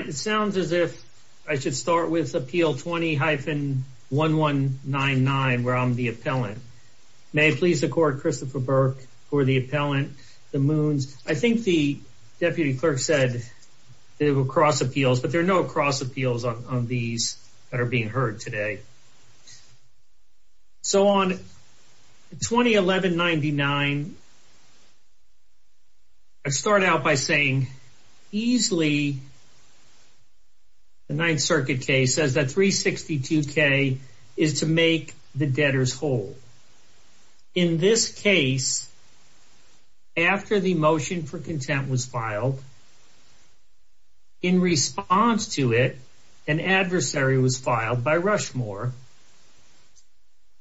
It sounds as if I should start with Appeal 20-1199, where I'm the appellant. May it please the Court, Christopher Burke, who are the appellant, the Moons. I think the Deputy Clerk said that it would cross appeals, but there are no cross appeals on these that are being heard today. So, on 20-1199, I start out by saying, easily, the Ninth Circuit case says that 362K is to make the debtors whole. In this case, after the motion for content was filed, in response to it, an adversary was filed by Rushmore,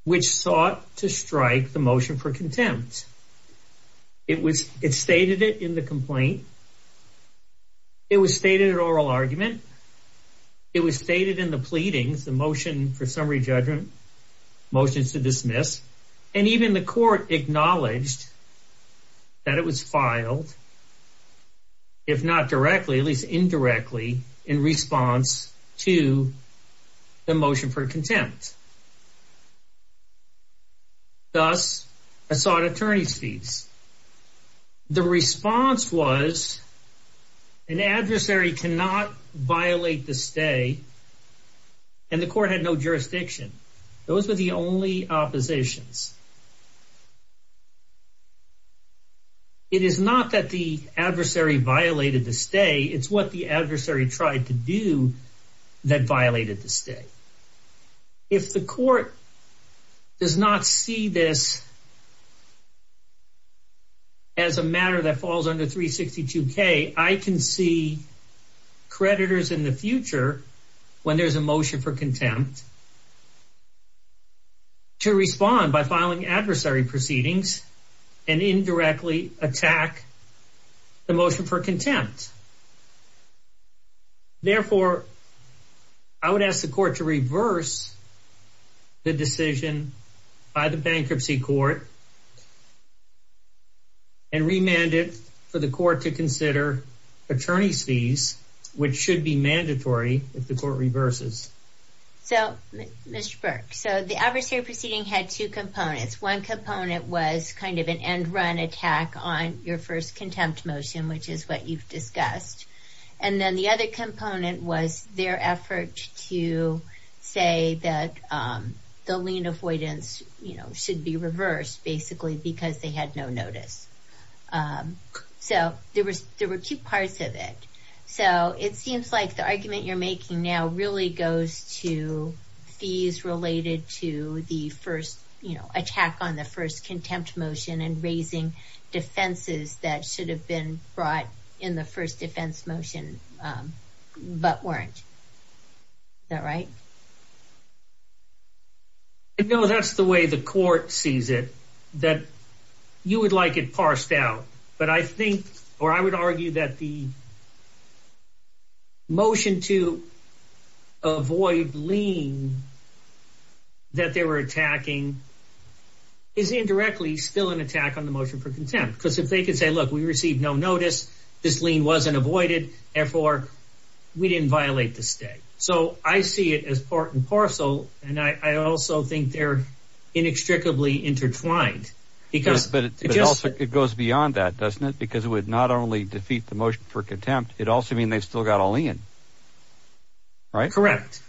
which sought to strike the motion for contempt. It stated it in the complaint. It was stated in oral argument. It was stated in the pleadings, the motion for summary judgment, motions to dismiss, and even the Court acknowledged that it was filed, if not directly, at least indirectly, in response to the motion for contempt. Thus, I sought attorney's fees. The response was, an adversary cannot violate the stay, and the Court had no jurisdiction. Those were the only oppositions. It is not that the adversary violated the stay. It's what the adversary tried to do that violated the stay. If the Court does not see this as a matter that falls under 362K, I can see creditors in the future, when there's a motion for contempt, to respond by filing a motion for contempt. I can see creditors in the future, when there's a motion for contempt, to respond by filing adversary proceedings and indirectly attack the motion for contempt. Therefore, I would ask the Court to reverse the decision by the Bankruptcy Court and remand it for the Court to consider attorney's fees, which should be mandatory if the Court reverses. So, Mr. Burke, the adversary proceeding had two components. One component was kind of an end-run attack on your first contempt motion, which is what you've discussed. And then the other component was their effort to say that the lien avoidance should be reversed, basically, because they had no notice. So there were two parts of it. So it seems like the argument you're making now really goes to fees related to the attack on the first contempt motion and raising defenses that should have been brought in the first defense motion, but weren't. Is that right? No, that's the way the Court sees it. You would like it parsed out, but I would argue that the motion to avoid lien that they were attacking is indirectly still an attack on the motion for contempt. Because if they could say, look, we received no notice, this lien wasn't avoided, therefore, we didn't violate the state. So I see it as part and parcel, and I also think they're inextricably intertwined. But it goes beyond that, doesn't it? Because it would not only defeat the motion for contempt, it also means they've still got a lien. Correct.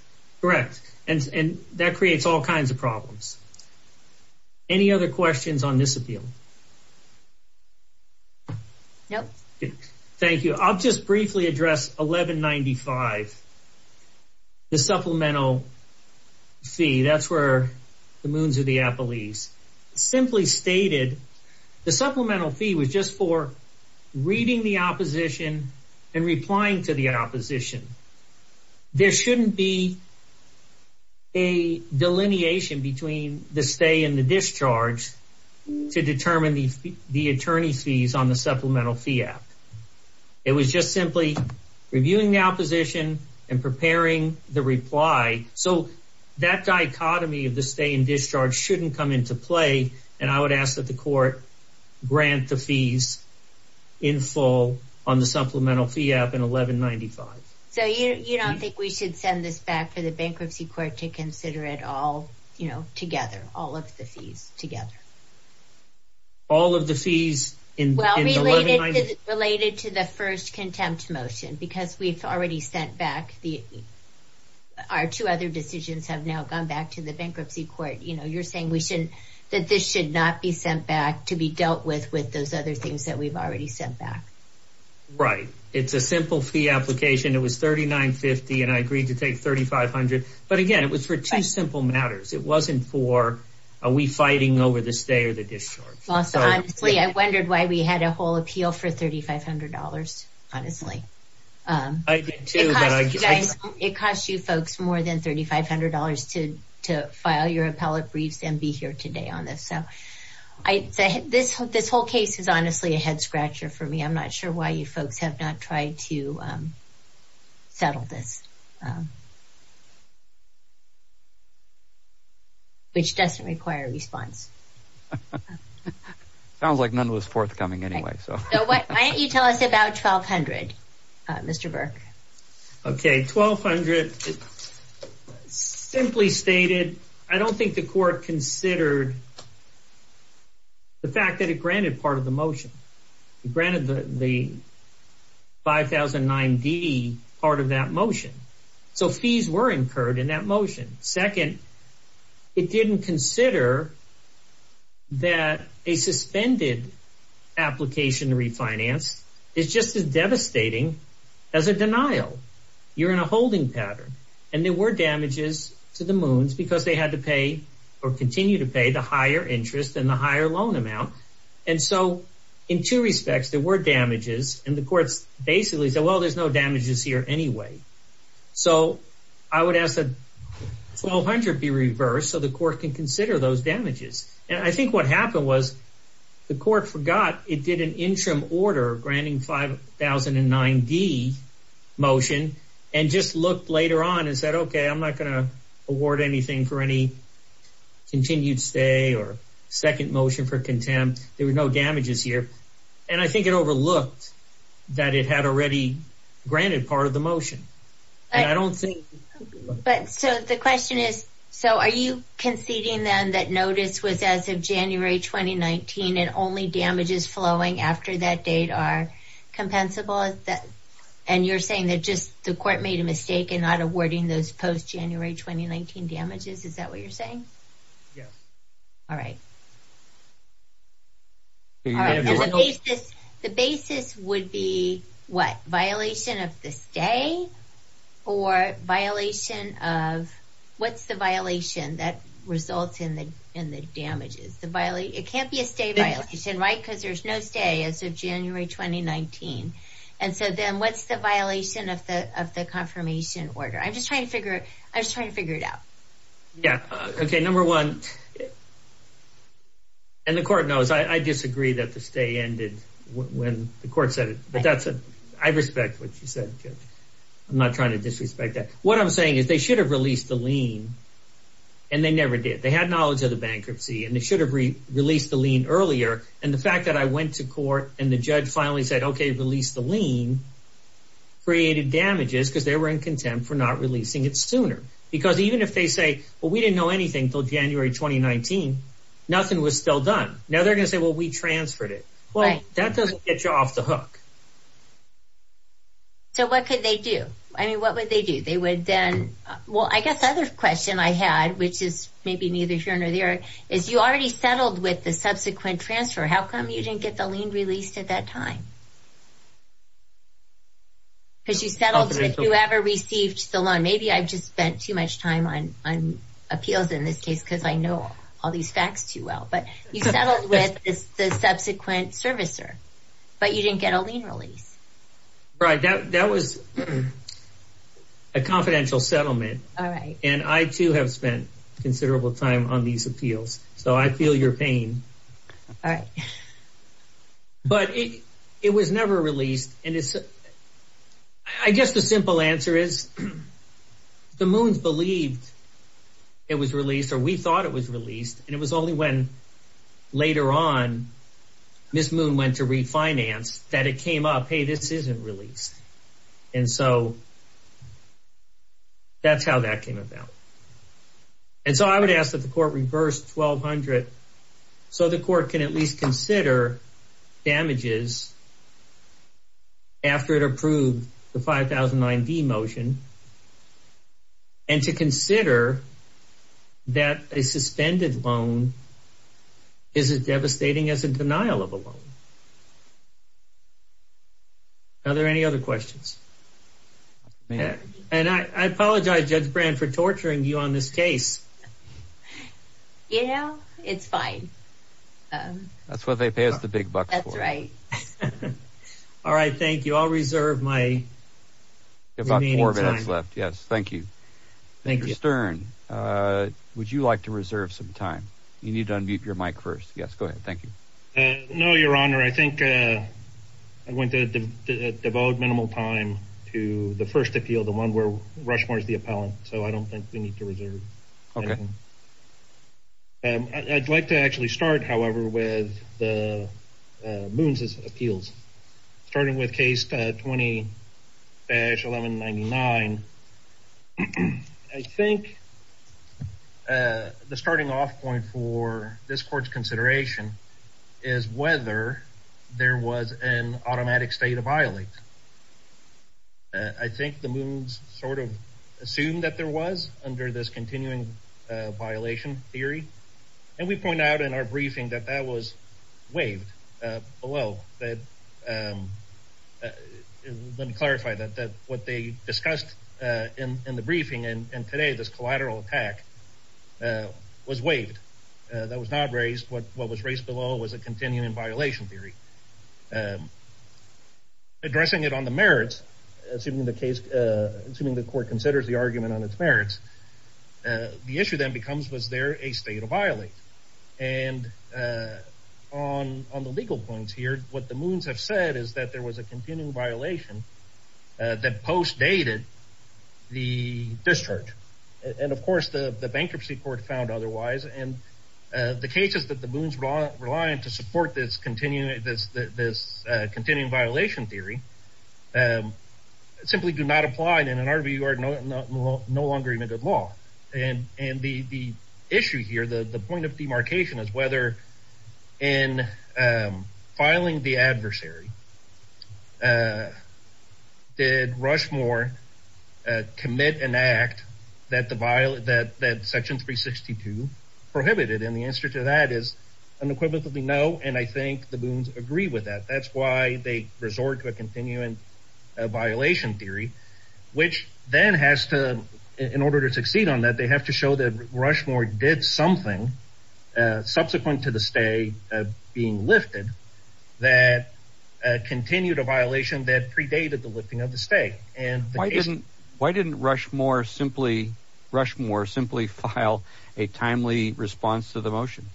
And that creates all kinds of problems. Any other questions on this appeal? No. Thank you. I'll just briefly address 1195, the supplemental fee. That's where the moons are the appellees. Simply stated, the supplemental fee was just for reading the opposition and replying to the opposition. There shouldn't be a delineation between the stay and the discharge to determine the attorney's fees on the supplemental fee app. It was just simply reviewing the opposition and preparing the reply. So that dichotomy of the stay and discharge shouldn't come into play, and I would ask that the court grant the fees in full on the supplemental fee app in 1195. So you don't think we should send this back to the bankruptcy court to consider it all together, all of the fees together? All of the fees in 1195? Well, related to the first contempt motion. Because we've already sent back our two other decisions have now gone back to the bankruptcy court. You're saying that this should not be sent back to be dealt with with those other things that we've already sent back. Right. It's a simple fee application. It was 3950, and I agreed to take 3500. But again, it was for two simple matters. It wasn't for are we fighting over the stay or the discharge. Honestly, I wondered why we had a whole appeal for $3500, honestly. I did, too. It cost you folks more than $3500 to file your appellate briefs and be here today on this. So this whole case is honestly a head scratcher for me. I'm not sure why you folks have not tried to settle this. Which doesn't require a response. Sounds like none was forthcoming anyway. So why don't you tell us about 1200, Mr. Burke? Okay. 1200 simply stated, I don't think the court considered the fact that it granted part of the motion. It granted the 5009D part of that motion. So fees were incurred in that motion. Second, it didn't consider that a suspended application refinance is just as devastating as a denial. You're in a holding pattern. And there were damages to the moons because they had to pay or continue to pay the higher interest and the higher loan amount. And so in two respects, there were damages, and the courts basically said, well, there's no damages here anyway. So I would ask that 1200 be reversed so the court can consider those damages. And I think what happened was the court forgot it did an interim order granting 5009D motion and just looked later on and said, okay, I'm not going to award anything for any continued stay or second motion for contempt. There were no damages here. And I think it overlooked that it had already granted part of the motion. And I don't think. But so the question is, so are you conceding then that notice was as of January 2019 and only damages flowing after that date are compensable? And you're saying that just the court made a mistake in not awarding those post-January 2019 damages? Is that what you're saying? Yes. All right. The basis would be what? Violation of the stay? Or violation of what's the violation that results in the damages? It can't be a stay violation, right? Because there's no stay as of January 2019. And so then what's the violation of the confirmation order? I'm just trying to figure it out. Yeah. Okay. Number one, and the court knows. I disagree that the stay ended when the court said it. But I respect what you said, Judge. I'm not trying to disrespect that. What I'm saying is they should have released the lien, and they never did. They had knowledge of the bankruptcy, and they should have released the lien earlier. And the fact that I went to court and the judge finally said, okay, release the lien, created damages because they were in contempt for not releasing it sooner. Because even if they say, well, we didn't know anything until January 2019, nothing was still done. Now they're going to say, well, we transferred it. Well, that doesn't get you off the hook. So what could they do? I mean, what would they do? They would then. Well, I guess the other question I had, which is maybe neither here nor there, is you already settled with the subsequent transfer. How come you didn't get the lien released at that time? Because you settled with whoever received the loan. And maybe I just spent too much time on appeals in this case because I know all these facts too well. But you settled with the subsequent servicer, but you didn't get a lien release. Right. That was a confidential settlement. And I, too, have spent considerable time on these appeals. So I feel your pain. But it was never released. I guess the simple answer is the Moons believed it was released or we thought it was released. And it was only when later on Ms. Moon went to refinance that it came up, hey, this isn't released. And so that's how that came about. And so I would ask that the court reverse 1,200 so the court can at least consider damages after it approved the 5009D motion and to consider that a suspended loan is as devastating as a denial of a loan. Are there any other questions? And I apologize, Judge Brand, for torturing you on this case. You know, it's fine. That's what they pay us the big bucks for. That's right. All right. Thank you. I'll reserve my remaining time. You have about four minutes left. Yes. Thank you. Thank you. Mr. Stern, would you like to reserve some time? You need to unmute your mic first. Yes. Go ahead. Thank you. No, Your Honor. I think I went to devote minimal time to the first appeal, the one where Rushmore is the appellant. So I don't think we need to reserve anything. Okay. I'd like to actually start, however, with the Moons' appeals. Starting with case 20-1199, I think the starting off point for this court's consideration is whether there was an automatic state of violence. I think the Moons sort of assumed that there was under this continuing violation theory, and we point out in our briefing that that was waived below. Let me clarify that what they discussed in the briefing and today this collateral attack was waived. That was not raised. What was raised below was a continuing violation theory. Addressing it on the merits, assuming the court considers the argument on its merits, the issue then becomes, was there a state of violence? And on the legal points here, what the Moons have said is that there was a continuing violation that post-dated the discharge. And, of course, the bankruptcy court found otherwise. And the cases that the Moons rely on to support this continuing violation theory simply do not apply in an argument no longer even good law. And the issue here, the point of demarcation is whether in filing the prohibited. And the answer to that is unequivocally no. And I think the Moons agree with that. That's why they resort to a continuing violation theory, which then has to, in order to succeed on that, they have to show that Rushmore did something subsequent to the stay being lifted that continued a violation that predated the lifting of the stay. Why didn't Rushmore simply file a timely response to the motion?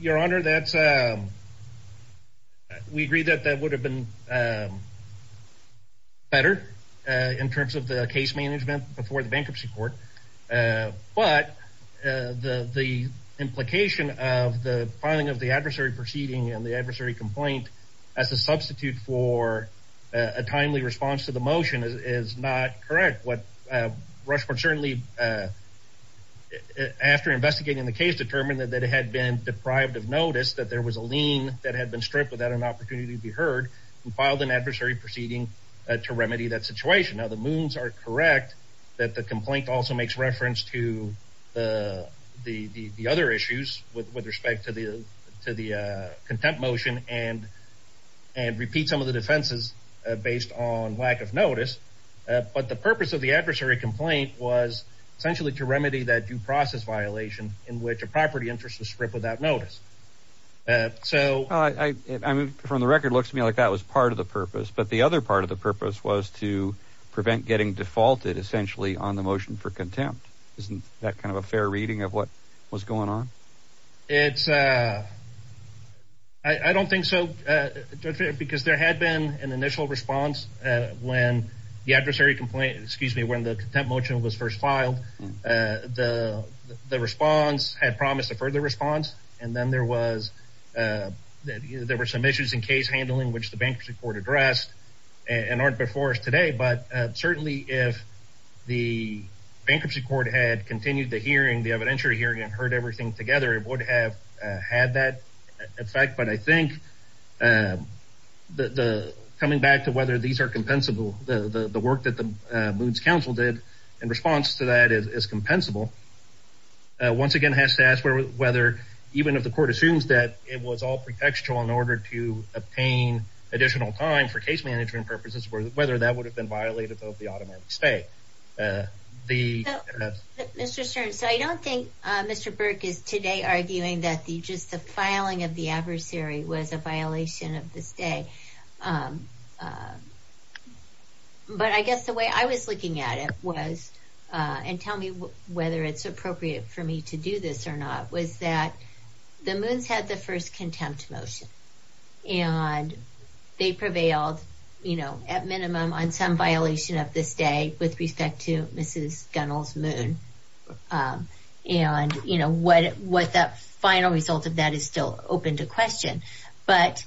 Your Honor, we agree that that would have been better in terms of the case management before the bankruptcy court. But the implication of the filing of the adversary proceeding and the timely response to the motion is not correct. Rushmore certainly, after investigating the case, determined that it had been deprived of notice that there was a lien that had been stripped without an opportunity to be heard and filed an adversary proceeding to remedy that situation. Now, the Moons are correct that the complaint also makes reference to the other issues with respect to the contempt motion and repeat some of the offenses based on lack of notice. But the purpose of the adversary complaint was essentially to remedy that due process violation in which a property interest was stripped without notice. So... From the record, it looks to me like that was part of the purpose. But the other part of the purpose was to prevent getting defaulted, essentially, on the motion for contempt. Isn't that kind of a fair reading of what was going on? It's... I don't think so. Because there had been an initial response when the adversary complaint, excuse me, when the contempt motion was first filed. The response had promised a further response. And then there was, there were some issues in case handling which the bankruptcy court addressed and aren't before us today. But certainly, if the bankruptcy court had continued the hearing, the adversary would have had that effect. But I think coming back to whether these are compensable, the work that the Moons Council did in response to that is compensable, once again has to ask whether, even if the court assumes that it was all pretextual in order to obtain additional time for case management purposes, whether that would have been violated of the automatic stay. The... arguing that just the filing of the adversary was a violation of the stay. But I guess the way I was looking at it was, and tell me whether it's appropriate for me to do this or not, was that the Moons had the first contempt motion. And they prevailed, you know, at minimum on some violation of the stay with respect to Mrs. Gunnell's Moon. And, you know, what that final result of that is still open to question. But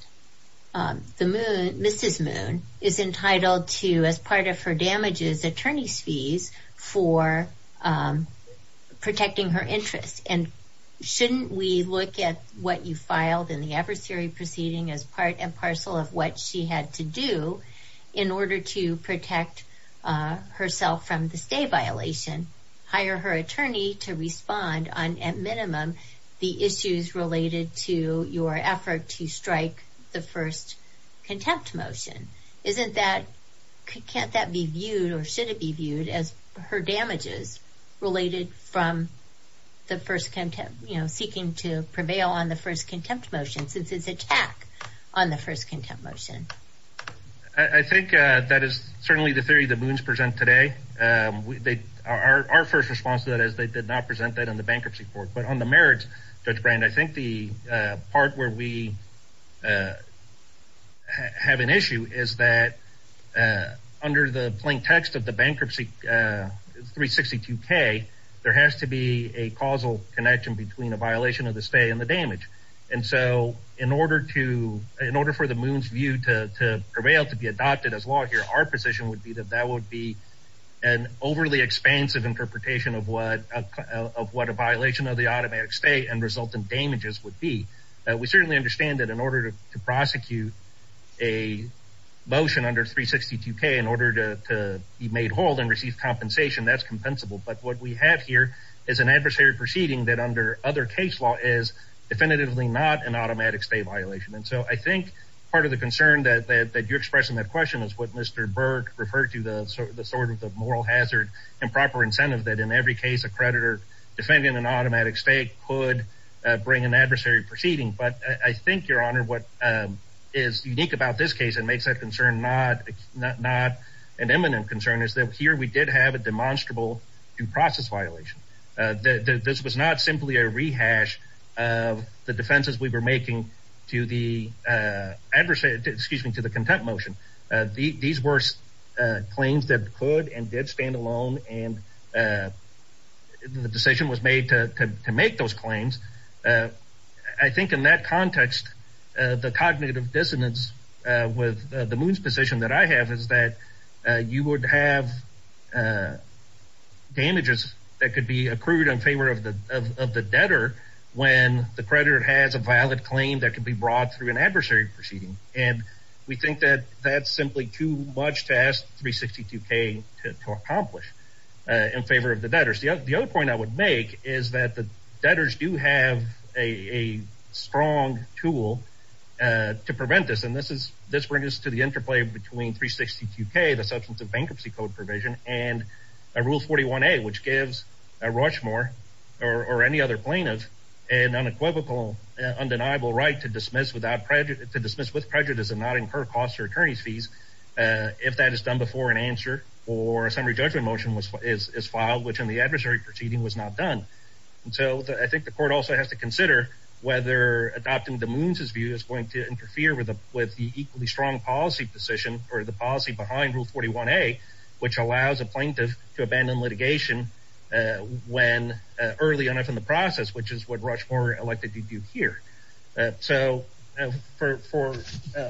the Moon, Mrs. Moon, is entitled to, as part of her damages, attorney's fees for protecting her interests. And shouldn't we look at what you filed in the adversary proceeding as part and parcel of what she had to do in order to protect herself from the stay violation, hire her attorney to respond on, at minimum, the issues related to your effort to strike the first contempt motion? Isn't that, can't that be viewed, or should it be viewed as her damages related from the first contempt, you know, seeking to prevail on the first contempt motion since it's an attack on the first contempt motion? I think that is certainly the theory the Moons present today. Our first response to that is they did not present that in the bankruptcy court. But on the merits, Judge Brand, I think the part where we have an issue is that under the plain text of the bankruptcy 362K, there has to be a causal connection between a violation of the stay and the damage. And so in order for the Moons view to prevail, to be adopted as law here, our position would be that that would be an overly expansive interpretation of what a violation of the automatic stay and result in damages would be. We certainly understand that in order to prosecute a motion under 362K in order to be made whole and receive compensation, that's compensable. But what we have here is an adversary proceeding that under other case law is definitively not an automatic stay violation. And so I think part of the concern that you express in that question is what Mr. Burke referred to, the sort of the moral hazard, improper incentive that in every case a creditor defending an automatic stay could bring an adversary proceeding. But I think, Your Honor, what is unique about this case and makes that concern not an imminent concern is that here we did have a demonstrable due process violation. This was not simply a rehash of the defenses we were making to the adversary, excuse me, to the contempt motion. These were claims that could and did stand alone and the decision was made to make those claims. I think in that context, the cognitive dissonance with the Moons decision that I have is that you would have damages that could be accrued in favor of the debtor when the creditor has a valid claim that could be brought through an adversary proceeding. And we think that that's simply too much to ask 362K to accomplish in favor of the debtors. The other point I would make is that the debtors do have a strong tool to prevent this. And this brings us to the interplay between 362K, the substance of bankruptcy code provision, and Rule 41A, which gives a Rochmore or any other plaintiff an unequivocal, undeniable right to dismiss with prejudice and not incur costs or attorney's fees if that is done before an answer or a summary judgment motion is filed, which in the adversary proceeding was not done. So I think the court also has to consider whether adopting the Moons' view is going to interfere with the equally strong policy position or the policy behind Rule 41A, which allows a plaintiff to abandon litigation early enough in the process, which is what Rochmore elected to do here. So for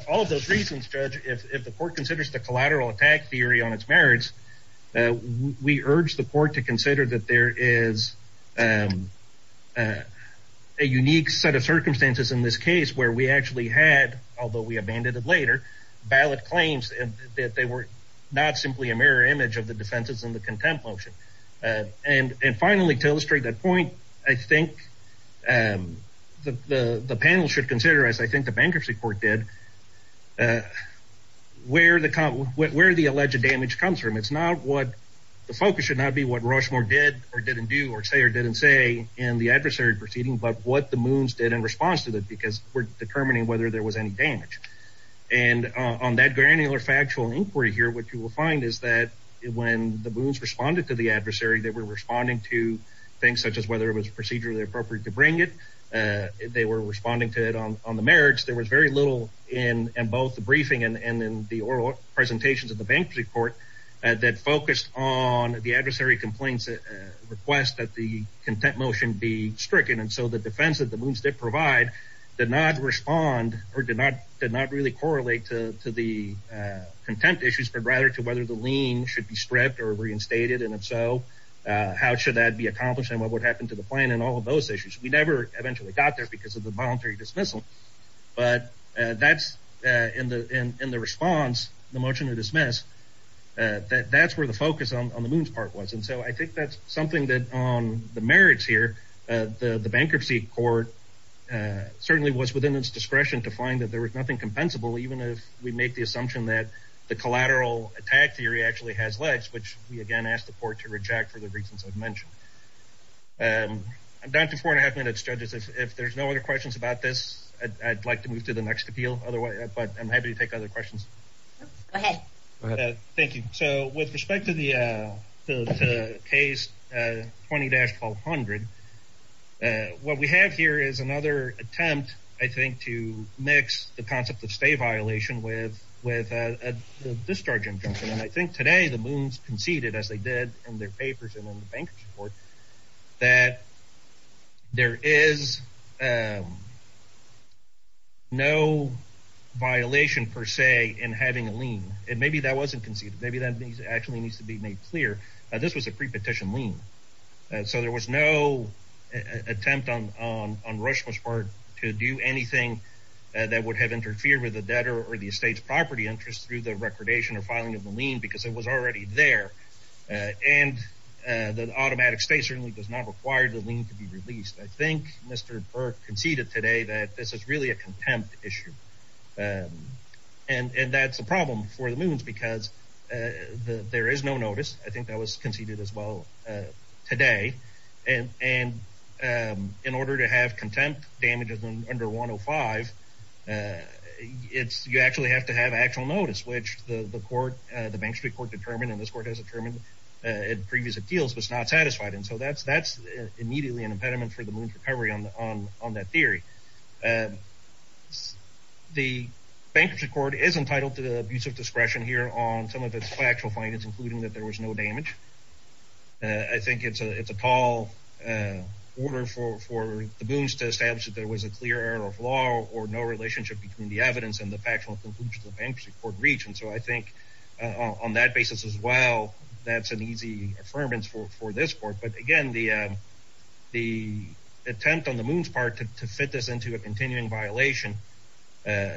all of those reasons, Judge, if the court considers the there is a unique set of circumstances in this case where we actually had, although we abandoned it later, valid claims that they were not simply a mirror image of the defenses in the contempt motion. And finally, to illustrate that point, I think the panel should consider, as I think the bankruptcy court did, where the alleged damage comes from. It's not what the focus should not be what Rochmore did or didn't do or say or didn't say in the adversary proceeding, but what the Moons did in response to that, because we're determining whether there was any damage. And on that granular factual inquiry here, what you will find is that when the Moons responded to the adversary, they were responding to things such as whether it was procedurally appropriate to bring it. They were responding to it on the merits. There was very little in both the briefing and in the oral presentations of the bankruptcy court that focused on the adversary complaints request that the contempt motion be stricken. And so the defense that the Moons did provide did not respond or did not really correlate to the contempt issues, but rather to whether the lien should be stripped or reinstated. And if so, how should that be accomplished and what would happen to the plan and all of those issues? We never eventually got there because of the voluntary dismissal. But that's in the response, the motion to dismiss, that's where the focus on the Moons part was. And so I think that's something that on the merits here, the bankruptcy court certainly was within its discretion to find that there was nothing compensable, even if we make the assumption that the collateral attack theory actually has legs, which we again ask the court to reject for the reasons I've mentioned. I'm down to four and a half minutes, judges. If there's no other questions about this, I'd like to move to the next appeal, but I'm happy to take other questions. Go ahead. Thank you. So with respect to the case 20-1200, what we have here is another attempt, I think, to mix the concept of stay violation with a discharge injunction. And I think today the Moons conceded, as they did in their papers and the bankruptcy court, that there is no violation per se in having a lien. Maybe that wasn't conceded. Maybe that actually needs to be made clear. This was a prepetition lien. So there was no attempt on Rushmore's part to do anything that would have interfered with the debtor or the estate's property interest through the recordation or filing of the lien because it was already there. And the automatic stay certainly does not require the lien to be released. I think Mr. Burke conceded today that this is really a contempt issue. And that's a problem for the Moons because there is no notice. I think that was conceded as well today. And in order to have contempt damages under 105, you actually have to have actual notice, which the court, the bankruptcy court determined and this court has determined in previous appeals, was not satisfied. And so that's immediately an impediment for the Moons' recovery on that theory. The bankruptcy court is entitled to the abuse of discretion here on some of its factual findings, including that there was no damage. I think it's a tall order for the Moons to establish that there was a clear error of law or no relationship between the evidence and the factual conclusion the bankruptcy court reached. And so I think on that basis as well, that's an easy affirmance for this court. But again, the attempt on the Moons' part to fit this into a continuing violation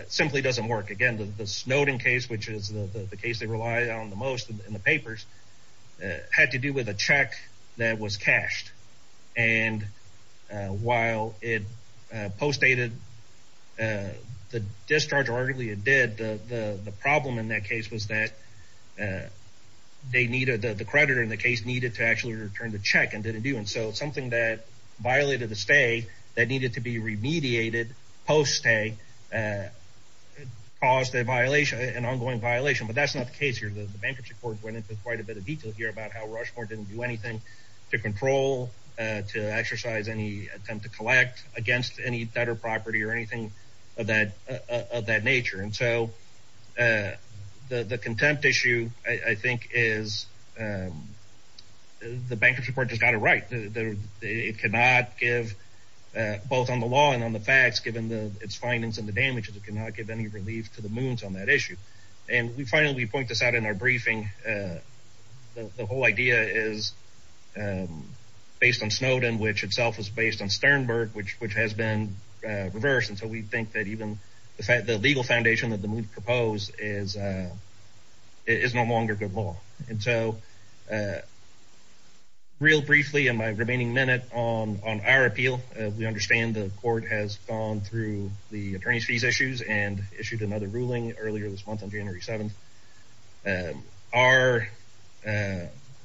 simply doesn't work. Again, the Snowden case, which is the case they relied on the most in the papers, had to do with a check that was cashed. And while it postdated the discharge, arguably it did, the problem in that case was that the creditor in the case needed to actually return the check and didn't do it. And so something that violated the stay that needed to be remediated post-stay caused an ongoing violation. But that's not the case here. The bankruptcy court went into quite a bit of detail here about how to exercise any attempt to collect against any debtor property or anything of that nature. And so the contempt issue, I think, is the bankruptcy court just got it right. It cannot give, both on the law and on the facts, given its findings and the damages, it cannot give any relief to the Moons on that issue. And we finally point this out in our briefing, the whole idea is based on Snowden, which itself was based on Sternberg, which has been reversed. And so we think that even the legal foundation that the Moons propose is no longer good law. And so real briefly in my remaining minute on our appeal, we understand the court has gone through the attorney's fees issues and issued another ruling earlier this month on January 7th. Our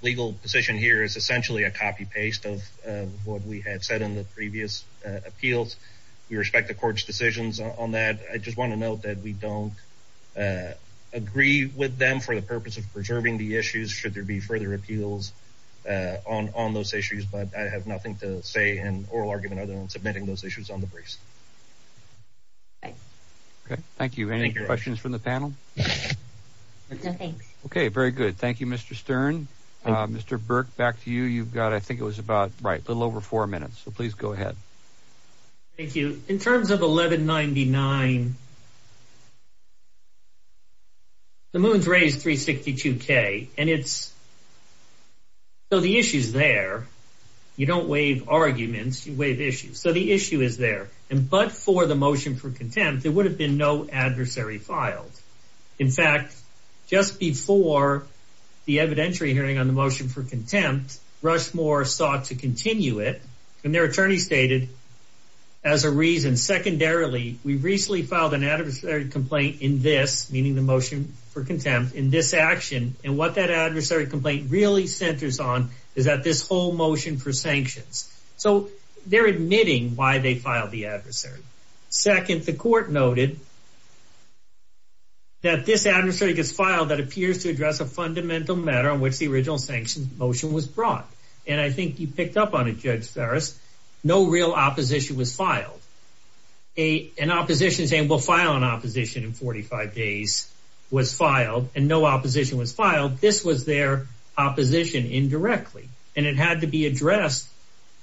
legal position here is essentially a copy-paste of what we had said in the previous appeals. We respect the court's decisions on that. I just want to note that we don't agree with them for the purpose of preserving the issues should there be further appeals on those issues. But I have nothing to say in oral argument other than submitting those issues on the briefs. Okay. Thank you. Thank you. Any questions from the panel? No, thanks. Okay. Very good. Thank you, Mr. Stern. Mr. Burke, back to you. You've got, I think it was about, right, a little over four minutes. So please go ahead. Thank you. In terms of 1199, the Moons raised 362K. And it's, so the issue's there. You don't waive arguments, you waive issues. So the issue is there. And but for the motion for contempt, there would have been no adversary filed. In fact, just before the evidentiary hearing on the motion for contempt, Rushmore sought to continue it. And their attorney stated, as a reason, secondarily, we recently filed an adversary complaint in this, meaning the motion for contempt, in this action. motion for sanctions. So they're admitting why they filed the adversary. Second, the court noted that this adversary gets filed that appears to address a fundamental matter on which the original sanctions motion was brought. And I think you picked up on it, Judge Farris. No real opposition was filed. An opposition saying we'll file an opposition in 45 days was filed, and no opposition was filed. This was their opposition indirectly. And it had to be addressed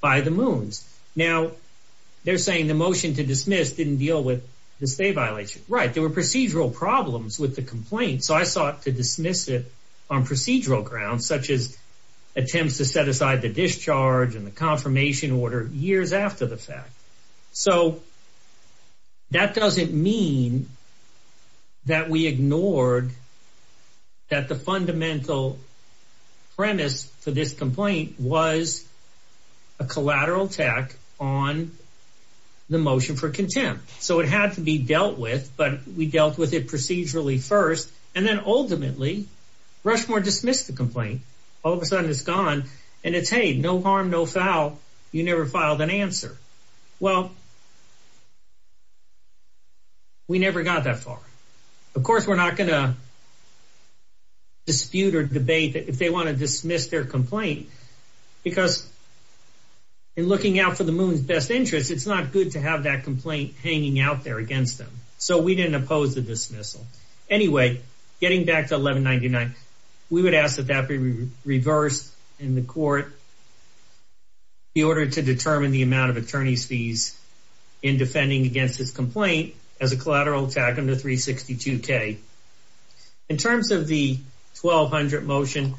by the moons. Now, they're saying the motion to dismiss didn't deal with the state violation. Right. There were procedural problems with the complaint. So I sought to dismiss it on procedural grounds, such as attempts to set aside the discharge and the confirmation order years after the fact. So that doesn't mean that we ignored that the fundamental premise for this complaint was a collateral attack on the motion for contempt. So it had to be dealt with, but we dealt with it procedurally first. And then, ultimately, Rushmore dismissed the complaint. All of a sudden, it's gone. And it's, hey, no harm, no foul. You never filed an answer. Well, we never got that far. Of course, we're not going to dispute or debate that if they want to dismiss their complaint, because in looking out for the moon's best interest, it's not good to have that complaint hanging out there against them. So we didn't oppose the dismissal. Anyway, getting back to 1199, we would ask that that be reversed in the court in order to determine the amount of attorney's fees in defending against this complaint as a collateral attack under 362K. In terms of the 1200 motion,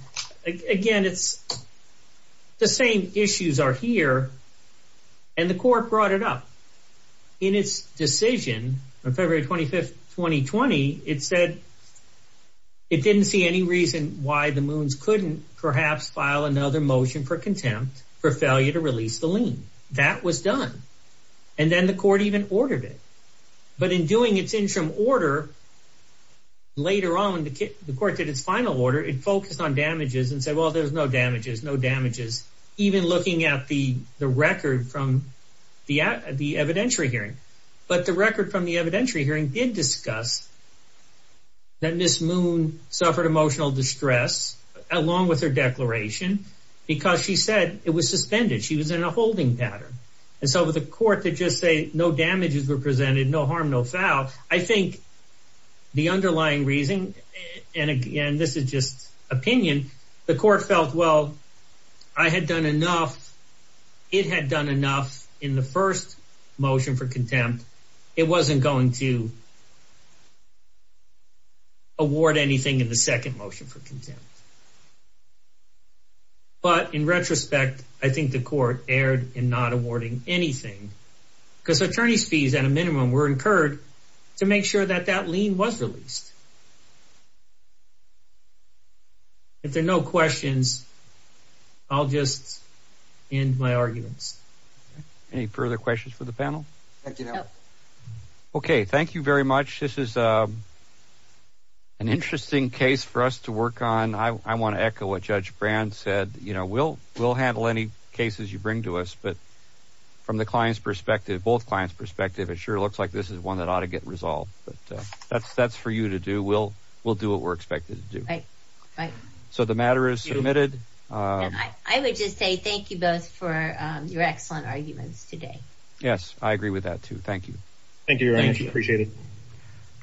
again, the same issues are here. And the court brought it up. In its decision on February 25, 2020, it said it didn't see any reason why the moons couldn't perhaps file another motion for contempt for failure to release the lien. That was done. And then the court even ordered it. But in doing its interim order, later on, the court did its final order. It focused on damages and said, well, there's no damages, no damages, even looking at the record from the evidentiary hearing. But the record from the evidentiary hearing did discuss that Ms. Moon suffered emotional distress along with her declaration because she said it was suspended. She was in a holding pattern. And so with a court to just say no damages were presented, no harm, no foul, I think the underlying reason, and again, this is just opinion, the court felt, well, I had done enough. It had done enough in the first motion for contempt. It wasn't going to award anything in the second motion for contempt. But in retrospect, I think the court erred in not awarding anything because attorney's fees at a minimum were incurred to make sure that that lien was released. If there are no questions, I'll just end my arguments. Any further questions for the panel? No. Okay. Thank you very much. This is an interesting case for us to work on. I want to echo what Judge Brand said. We'll handle any cases you bring to us. But from the client's perspective, both clients' perspective, it sure looks like this is one that ought to get resolved. But that's for you to do. We'll do what we're expected to do. Right. So the matter is submitted. I would just say thank you both for your excellent arguments today. Yes, I agree with that, too. Thank you. Thank you, Your Honor. Appreciate it.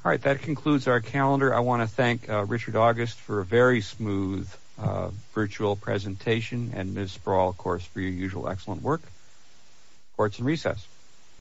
All right. That concludes our calendar. I want to thank Richard August for a very smooth virtual presentation and Ms. Sproul, of course, for your usual excellent work. Court is in recess.